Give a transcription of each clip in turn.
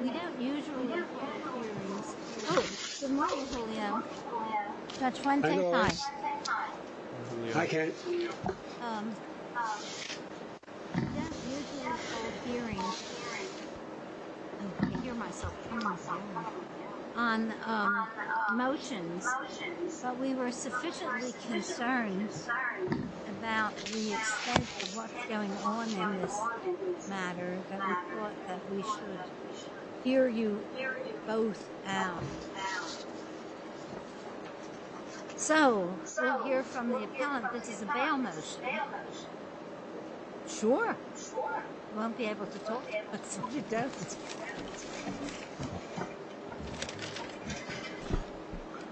We don't usually hold hearings on motions, but we were sufficiently concerned about the extent of what's going on in this matter that we thought that we should hear you both out. So, we'll hear from the appellant. This is a bail motion. Sure. We won't be able to talk about it.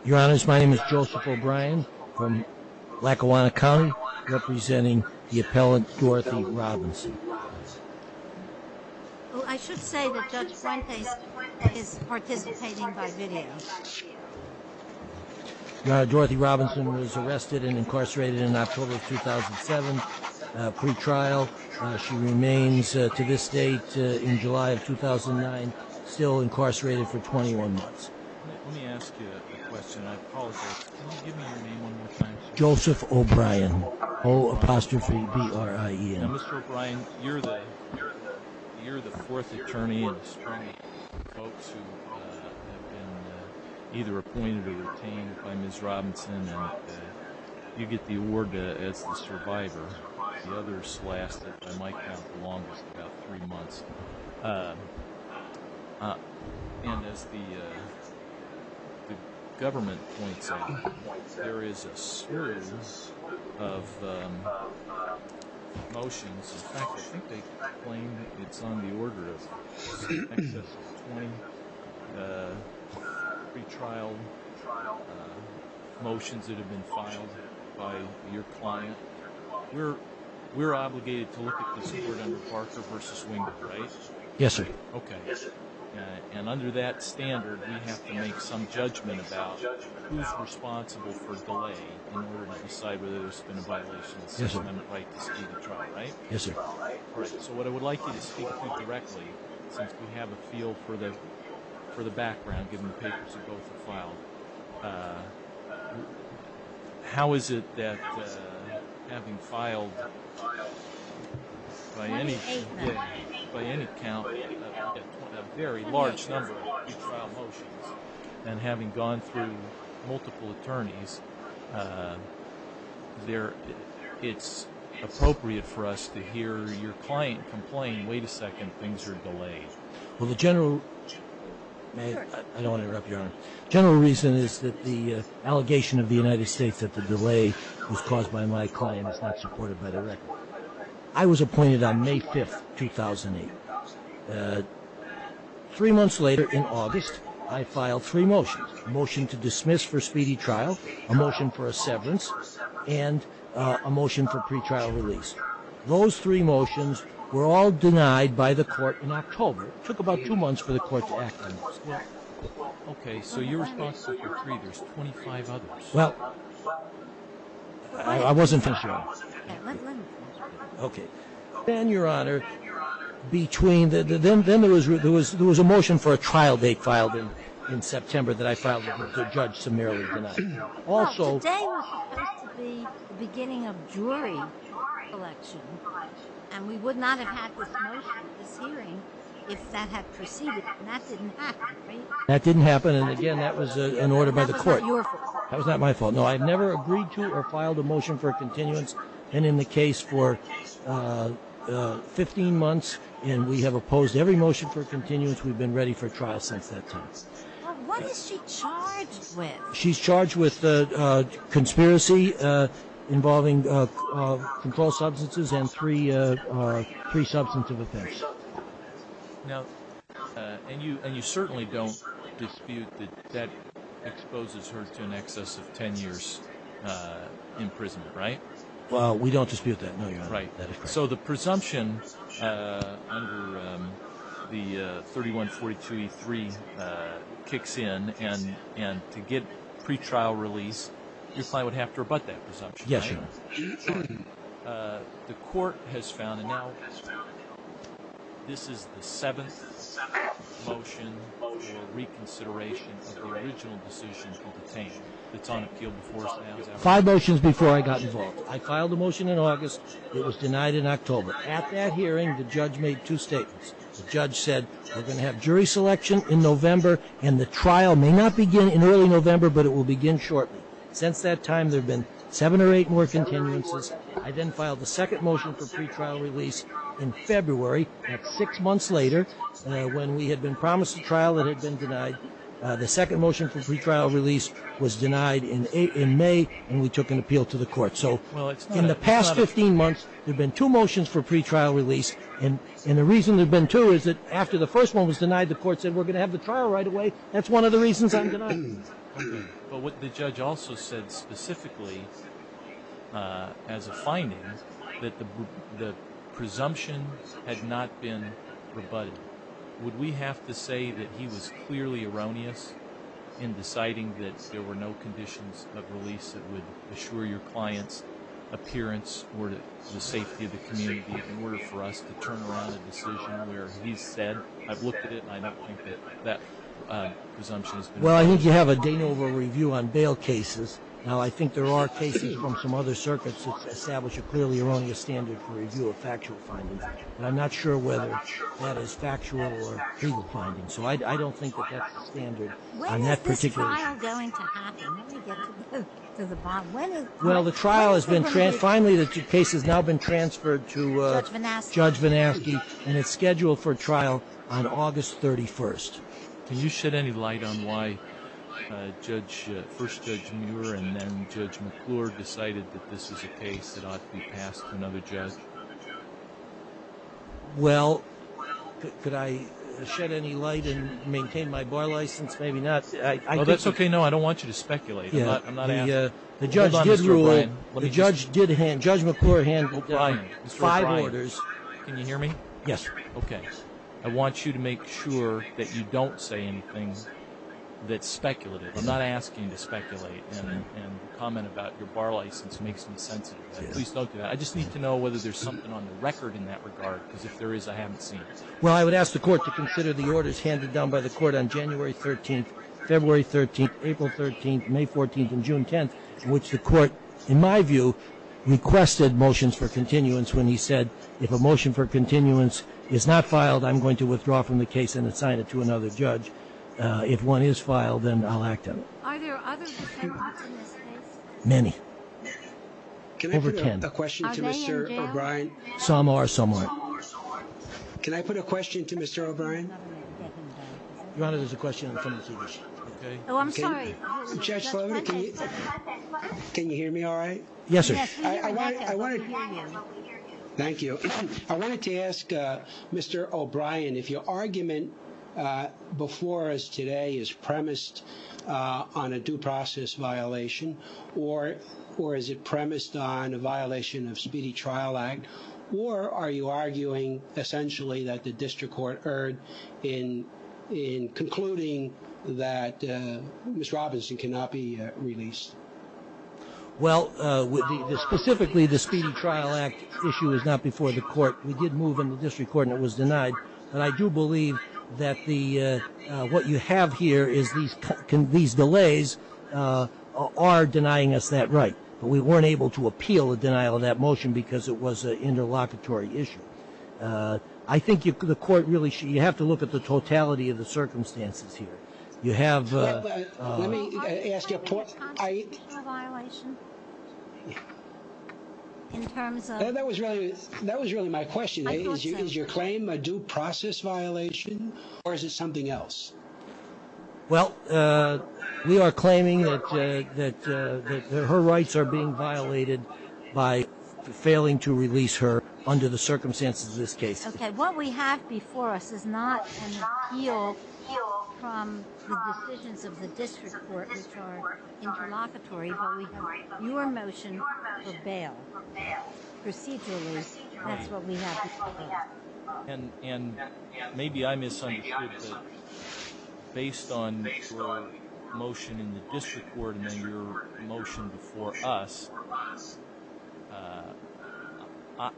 Your Honors, my name is Joseph O'Brien from Lackawanna County, representing the appellant, Dorothy Robinson. I should say that Judge Fuentes is participating by video. Dorothy Robinson was arrested and incarcerated in October 2007, pre-trial. She remains, to this date, in July of 2009, still incarcerated for 21 months. Let me ask you a question. I apologize. Can you give me your name one more time? Joseph O'Brien. O apostrophe B-R-I-E-N. Now, Mr. O'Brien, you're the fourth attorney in the Supreme Court. Folks who have been either appointed or retained by Ms. Robinson, you get the award as the survivor. The others last, I might count, the longest, about three months. And as the government points out, there is a series of motions. In fact, I think they claim it's on the order of 20 pre-trial motions that have been filed by your client. We're obligated to look at this court under Parker v. Wingard, right? Yes, sir. Okay. And under that standard, we have to make some judgment about who's responsible for delay in order to decide whether there's been a violation of the 7th Amendment right to scheme of trial, right? Yes, sir. So what I would like you to speak to directly, since we have a feel for the background, given the papers that both have filed, how is it that having filed by any count a very large number of pre-trial motions and having gone through multiple attorneys, it's appropriate for us to hear your client complain, wait a second, things are delayed? Well, the general reason is that the allegation of the United States that the delay was caused by my client is not supported by the record. I was appointed on May 5th, 2008. Three months later, in August, I filed three motions. A motion to dismiss for speedy trial, a motion for a severance, and a motion for pre-trial release. Those three motions were all denied by the court in October. It took about two months for the court to act on those. Okay. So your response to those three, there's 25 others. Well, I wasn't finished, Your Honor. Okay. Then, Your Honor, between the ‑‑ then there was a motion for a trial date filed in September that I filed with the judge to merely deny. Well, today was supposed to be the beginning of jury election, and we would not have had this motion, this hearing, if that had proceeded, and that didn't happen, right? That didn't happen, and, again, that was an order by the court. That was not your fault. That was not my fault. No, I've never agreed to or filed a motion for a continuance, and in the case for 15 months, and we have opposed every motion for continuance, we've been ready for trial since that time. Well, what is she charged with? She's charged with conspiracy involving controlled substances and three substantive offenses. Now, and you certainly don't dispute that that exposes her to an excess of 10 years imprisonment, right? We don't dispute that, no, Your Honor. Right, so the presumption under the 3142E3 kicks in, and to get pretrial release, you probably would have to rebut that presumption, right? Yes, Your Honor. The court has found, and now this is the seventh motion for reconsideration of the original decision for detainee that's on appeal before his bail is out. Five motions before I got involved. I filed a motion in August. It was denied in October. At that hearing, the judge made two statements. The judge said we're going to have jury selection in November, and the trial may not begin in early November, but it will begin shortly. Since that time, there have been seven or eight more continuances. I then filed the second motion for pretrial release in February, and six months later, when we had been promised a trial that had been denied, the second motion for pretrial release was denied in May, and we took an appeal to the court. So in the past 15 months, there have been two motions for pretrial release, and the reason there have been two is that after the first one was denied, the court said we're going to have the trial right away. That's one of the reasons I'm denying it. But what the judge also said specifically as a finding, that the presumption had not been rebutted, would we have to say that he was clearly erroneous in deciding that there were no conditions of release that would assure your client's appearance or the safety of the community in order for us to turn around a decision where he said, I've looked at it, and I don't think that that presumption has been rebutted? Well, I think you have a Danova review on bail cases. Now, I think there are cases from some other circuits that establish a clearly erroneous standard for review of factual findings, but I'm not sure whether that is factual or true findings. So I don't think that that's the standard on that particular issue. When is this trial going to happen? Well, the trial has been transferred. Finally, the case has now been transferred to Judge VanAske, and it's scheduled for trial on August 31st. Can you shed any light on why first Judge Muir and then Judge McClure decided that this is a case that ought to be passed to another judge? Well, could I shed any light and maintain my bar license? Maybe not. Well, that's okay. No, I don't want you to speculate. Hold on, Mr. O'Brien. Judge McClure handed five orders. Can you hear me? Yes. Okay. I want you to make sure that you don't say anything that's speculative. I'm not asking you to speculate and comment about your bar license makes me sensitive. Please don't do that. I just need to know whether there's something on the record in that regard, because if there is, I haven't seen it. Well, I would ask the Court to consider the orders handed down by the Court on January 13th, February 13th, April 13th, May 14th, and June 10th, in which the Court, in my view, requested motions for continuance when he said, if a motion for continuance is not filed, I'm going to withdraw from the case and assign it to another judge. If one is filed, then I'll act on it. Are there other defendants in this case? Many. Over ten. Can I put a question to Mr. O'Brien? Some are, some aren't. Can I put a question to Mr. O'Brien? Your Honor, there's a question in front of you. Oh, I'm sorry. Judge Sullivan, can you hear me all right? Yes, sir. Thank you. I wanted to ask Mr. O'Brien if your argument before us today is premised on a due process violation, or is it premised on a violation of Speedy Trial Act, or are you arguing essentially that the district court erred in concluding that Ms. Robinson cannot be released? Well, specifically the Speedy Trial Act issue is not before the court. We did move in the district court and it was denied, but I do believe that what you have here is these delays are denying us that right. But we weren't able to appeal the denial of that motion because it was an interlocutory issue. I think the court really should, you have to look at the totality of the circumstances here. You have. Let me ask you a point. Are you claiming a constitutional violation in terms of. That was really my question. I thought so. Is your claim a due process violation, or is it something else? Well, we are claiming that her rights are being violated by failing to release her under the circumstances of this case. Okay, what we have before us is not an appeal from the decisions of the district court which are interlocutory, but we have your motion for bail. Procedurally, that's what we have before us. And maybe I misunderstood that. Based on your motion in the district court and then your motion before us,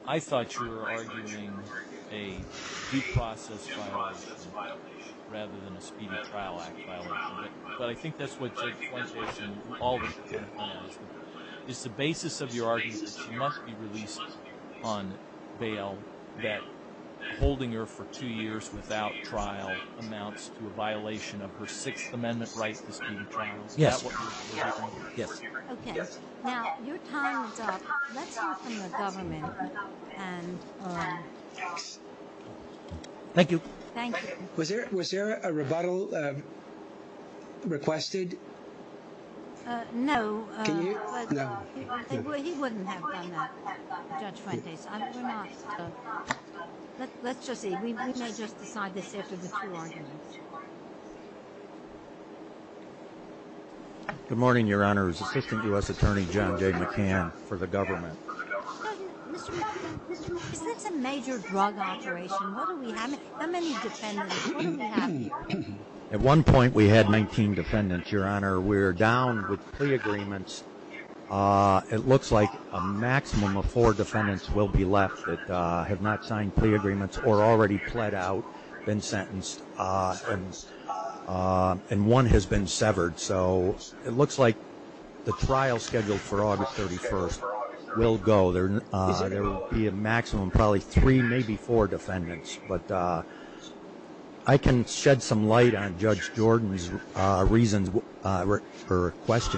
I thought you were arguing a due process violation rather than a speedy trial act violation. But I think that's what Jake's point is and all the court has. Is the basis of your argument that she must be released on bail, that holding her for two years without trial amounts to a violation of her Sixth Amendment right to speedy trials? Yes. Okay. Now, your time is up. Let's hear from the government. Thank you. Thank you. Was there a rebuttal requested? No. Can you? No. He wouldn't have done that, Judge Fuentes. Let's just see. We may just decide this after the two arguments. Good morning, Your Honor. This is Assistant U.S. Attorney John J. McCann for the government. Mr. McCann, isn't this a major drug operation? How many defendants? What do we have here? At one point, we had 19 defendants. Your Honor, we're down with plea agreements. It looks like a maximum of four defendants will be left that have not signed plea agreements or already pled out, been sentenced, and one has been severed. So it looks like the trial scheduled for August 31st will go. There will be a maximum of probably three, maybe four defendants. I can shed some light on Judge Jordan's question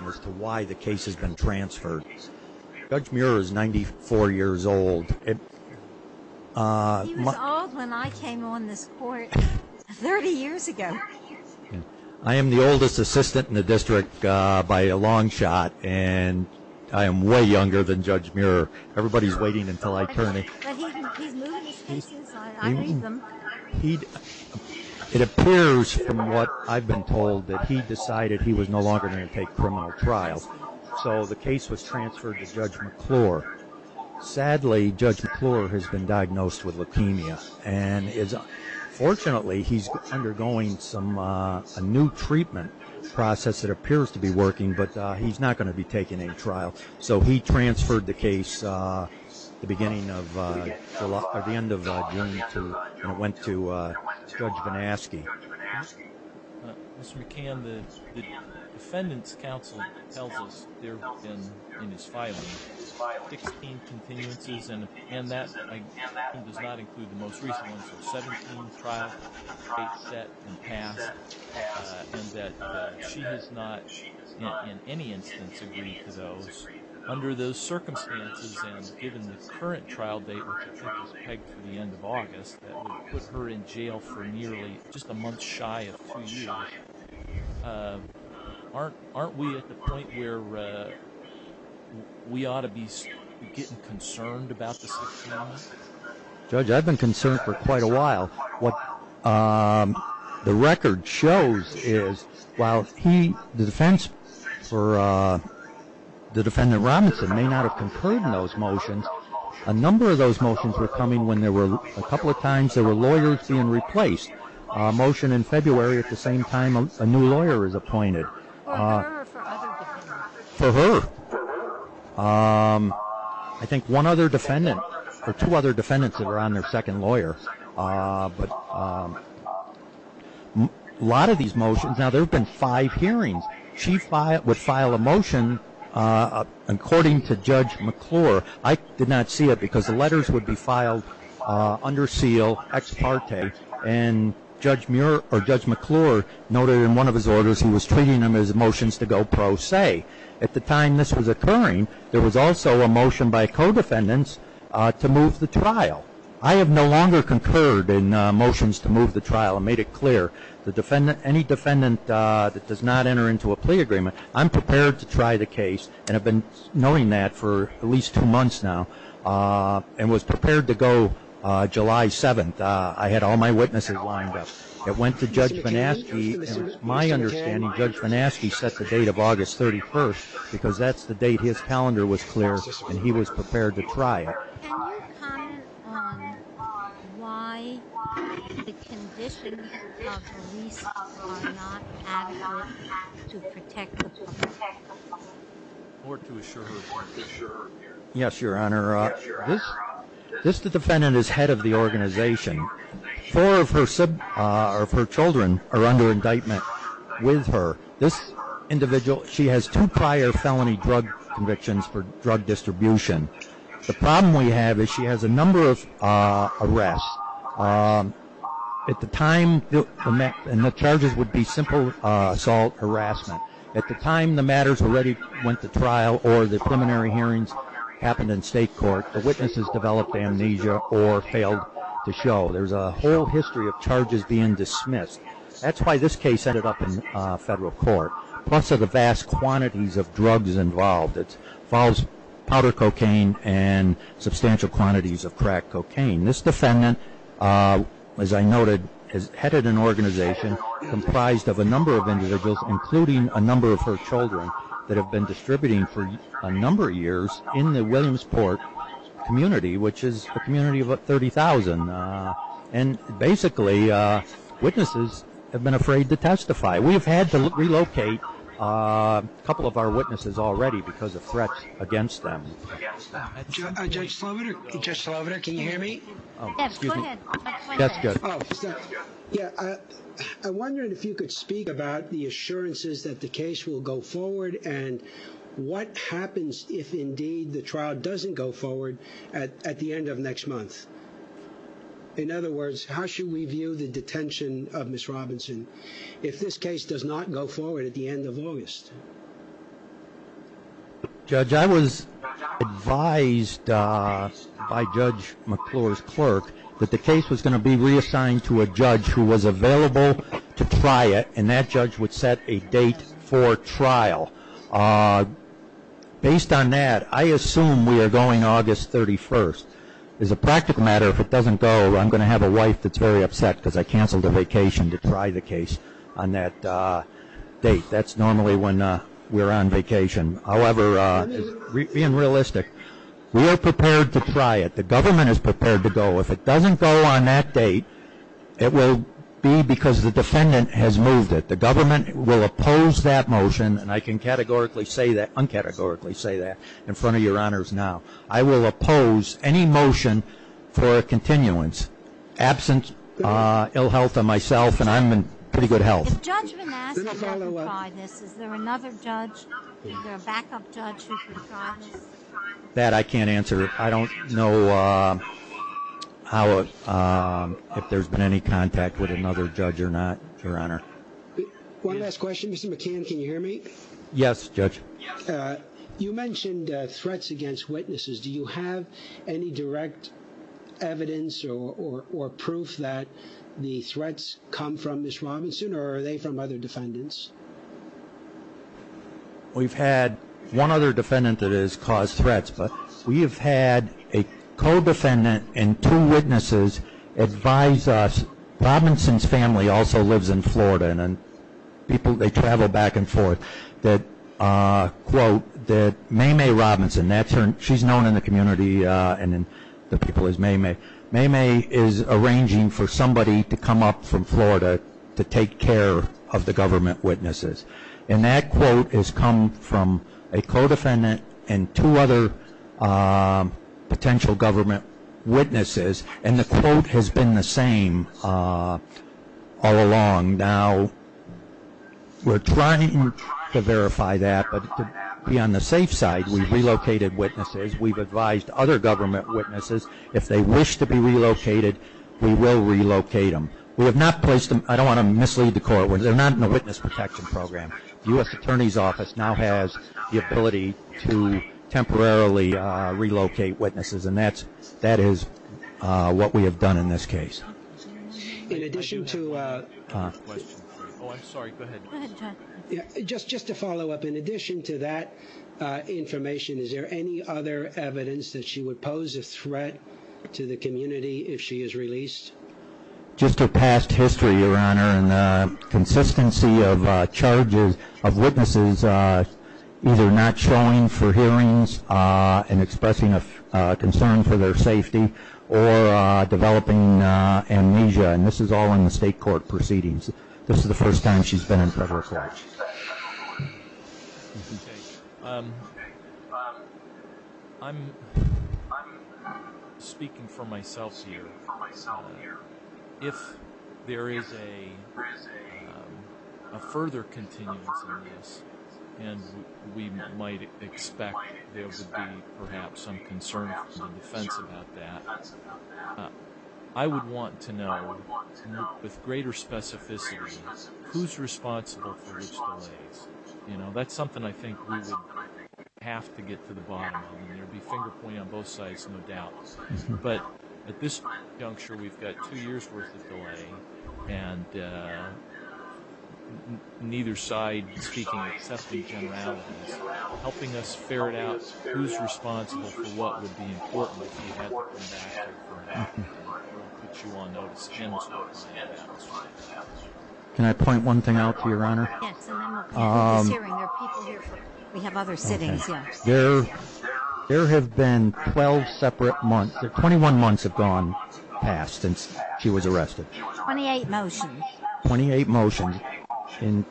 as to why the case has been transferred. Judge Muir is 94 years old. He was old when I came on this court 30 years ago. I am the oldest assistant in the district by a long shot, and I am way younger than Judge Muir. Everybody is waiting until I turn it. He's moving his cases. I read them. It appears from what I've been told that he decided he was no longer going to take criminal trial. So the case was transferred to Judge McClure. Sadly, Judge McClure has been diagnosed with leukemia. Fortunately, he's undergoing a new treatment process that appears to be working, but he's not going to be taking any trial. So he transferred the case at the end of June, and it went to Judge Bonaski. Mr. McCann, the defendant's counsel tells us there have been, in his filing, 16 continuances, and that does not include the most recent one, so 17 trials, 8 set and passed, and that she has not in any instance agreed to those. Under those circumstances and given the current trial date, which I think is pegged for the end of August, that would put her in jail for nearly just a month shy of two years. Aren't we at the point where we ought to be getting concerned about the 16th? Judge, I've been concerned for quite a while. What the record shows is while the defense for the defendant, Robinson, may not have concurred in those motions, a number of those motions were coming when a couple of times there were lawyers being replaced. A motion in February at the same time a new lawyer was appointed. For her or for other defendants? For her. I think one other defendant or two other defendants that are on their second lawyer. A lot of these motions, now there have been five hearings. She would file a motion according to Judge McClure. I did not see it because the letters would be filed under seal, ex parte, and Judge McClure noted in one of his orders he was treating them as motions to go pro se. At the time this was occurring, there was also a motion by co-defendants to move the trial. I have no longer concurred in motions to move the trial. I made it clear any defendant that does not enter into a plea agreement, I'm prepared to try the case and have been knowing that for at least two months now and was prepared to go July 7th. I had all my witnesses lined up. It went to Judge Venasky. My understanding, Judge Venasky set the date of August 31st because that's the date his calendar was clear and he was prepared to try it. Can you comment on why the conditions of her release are not ad-hoc to protect the public? Yes, Your Honor. This defendant is head of the organization. Four of her children are under indictment with her. This individual, she has two prior felony drug convictions for drug distribution. The problem we have is she has a number of arrests. At the time, the charges would be simple assault, harassment. At the time the matters already went to trial or the preliminary hearings happened in state court, the witnesses developed amnesia or failed to show. There's a whole history of charges being dismissed. That's why this case ended up in federal court, plus of the vast quantities of drugs involved. It involves powder cocaine and substantial quantities of crack cocaine. This defendant, as I noted, is head of an organization comprised of a number of individuals, including a number of her children that have been distributing for a number of years in the Williamsport community, which is a community of about 30,000. Basically, witnesses have been afraid to testify. We have had to relocate a couple of our witnesses already because of threats against them. Judge Sloboda, can you hear me? Yes, go ahead. Yeah, I wondered if you could speak about the assurances that the case will go forward and what happens if indeed the trial doesn't go forward at the end of next month. In other words, how should we view the detention of Ms. Robinson if this case does not go forward at the end of August? Judge, I was advised by Judge McClure's clerk that the case was going to be reassigned to a judge who was available to try it, and that judge would set a date for trial. Based on that, I assume we are going August 31st. As a practical matter, if it doesn't go, I'm going to have a wife that's very upset because I canceled a vacation to try the case on that date. That's normally when we're on vacation. However, being realistic, we are prepared to try it. The government is prepared to go. If it doesn't go on that date, it will be because the defendant has moved it. The government will oppose that motion, and I can un-categorically say that in front of your honors now. I will oppose any motion for a continuance, absent ill health of myself, and I'm in pretty good health. If Judge Manasseh hasn't tried this, is there another judge, either a backup judge who can try this? That I can't answer. I don't know if there's been any contact with another judge or not, Your Honor. One last question. Mr. McCann, can you hear me? Yes, Judge. You mentioned threats against witnesses. Do you have any direct evidence or proof that the threats come from Ms. Robinson, or are they from other defendants? We've had one other defendant that has caused threats, but we have had a co-defendant and two witnesses advise us. Robinson's family also lives in Florida, and they travel back and forth. Mae Mae Robinson, she's known in the community and in the people as Mae Mae. Mae Mae is arranging for somebody to come up from Florida to take care of the government witnesses, and that quote has come from a co-defendant and two other potential government witnesses, and the quote has been the same all along. We're trying to verify that, but to be on the safe side, we've relocated witnesses. We've advised other government witnesses. If they wish to be relocated, we will relocate them. I don't want to mislead the court. They're not in a witness protection program. The U.S. Attorney's Office now has the ability to temporarily relocate witnesses, and that is what we have done in this case. In addition to... Oh, I'm sorry. Go ahead. Just to follow up, in addition to that information, is there any other evidence that she would pose a threat to the community if she is released? Just her past history, Your Honor, and the consistency of charges of witnesses either not showing for hearings and expressing a concern for their safety or developing amnesia, and this is all in the state court proceedings. This is the first time she's been in federal court. Okay. I'm speaking for myself here. If there is a further continuance in this, and we might expect there would be perhaps some concern from the defense about that, I would want to know with greater specificity who's responsible for which delays. That's something I think we would have to get to the bottom of, and there would be finger pointing on both sides, no doubt. But at this juncture, we've got two years' worth of delay, and neither side, speaking of safety generalities, helping us ferret out who's responsible for what would be important if we had to bring back her. I'll put you on notice. Can I point one thing out to you, Your Honor? Yes. In this hearing, there are people here for you. We have other sittings, yes. There have been 12 separate months. Twenty-one months have gone past since she was arrested. Twenty-eight motions. Twenty-eight motions. In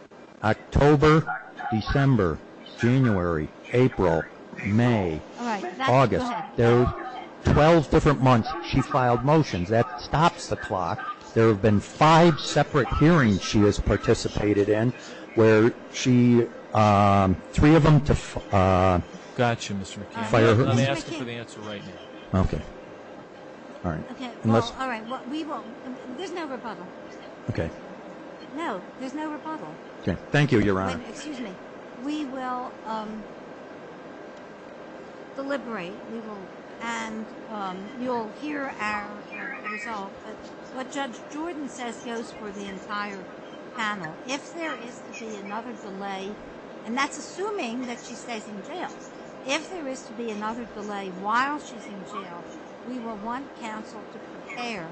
October, December, January, April, May, August, there are 12 different months she filed motions. That stops the clock. There have been five separate hearings she has participated in where she, three of them to fire her. Let me ask her for the answer right now. Okay. All right. There's no rebuttal. Okay. No, there's no rebuttal. Thank you, Your Honor. Excuse me. We will deliberate, and you'll hear our result. What Judge Jordan says goes for the entire panel. If there is to be another delay, and that's assuming that she stays in jail, if there is to be another delay while she's in jail, we will want counsel to prepare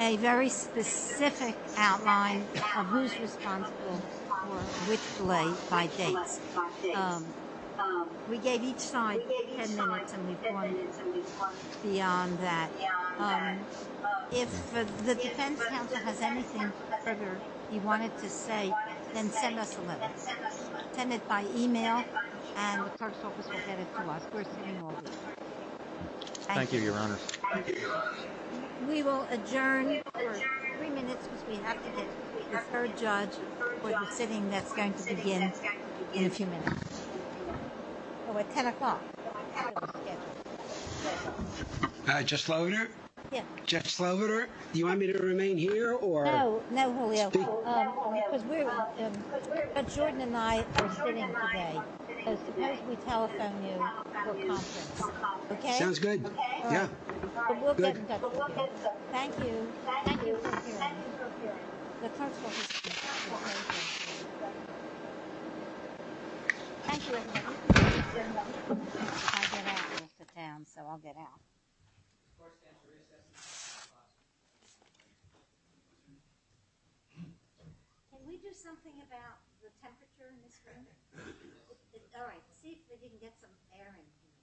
a very specific outline of who's responsible for which delay by dates. We gave each side 10 minutes, and we've gone beyond that. If the defense counsel has anything further he wanted to say, then send us a letter. Send it by e-mail, and the clerk's office will get it to us. We're sitting all day. Thank you, Your Honor. Thank you, Your Honor. We will adjourn for three minutes because we have to get the third judge for the sitting that's going to begin in a few minutes. So at 10 o'clock. Judge Slovener? Yes. Judge Slovener, do you want me to remain here or speak? No, no, Julio, because Jordan and I are sitting today. Suppose we telephone you for conference. Okay? Sounds good. Yeah. Good. Thank you. Thank you. Thank you for appearing. The clerk's office is here. Thank you. I can't get out of the town, so I'll get out. Can we do something about the temperature in this room? All right. See if we can get some air in here. All right. All right. All right. All right. All right. All right. All right. All right. All right. All right. All right.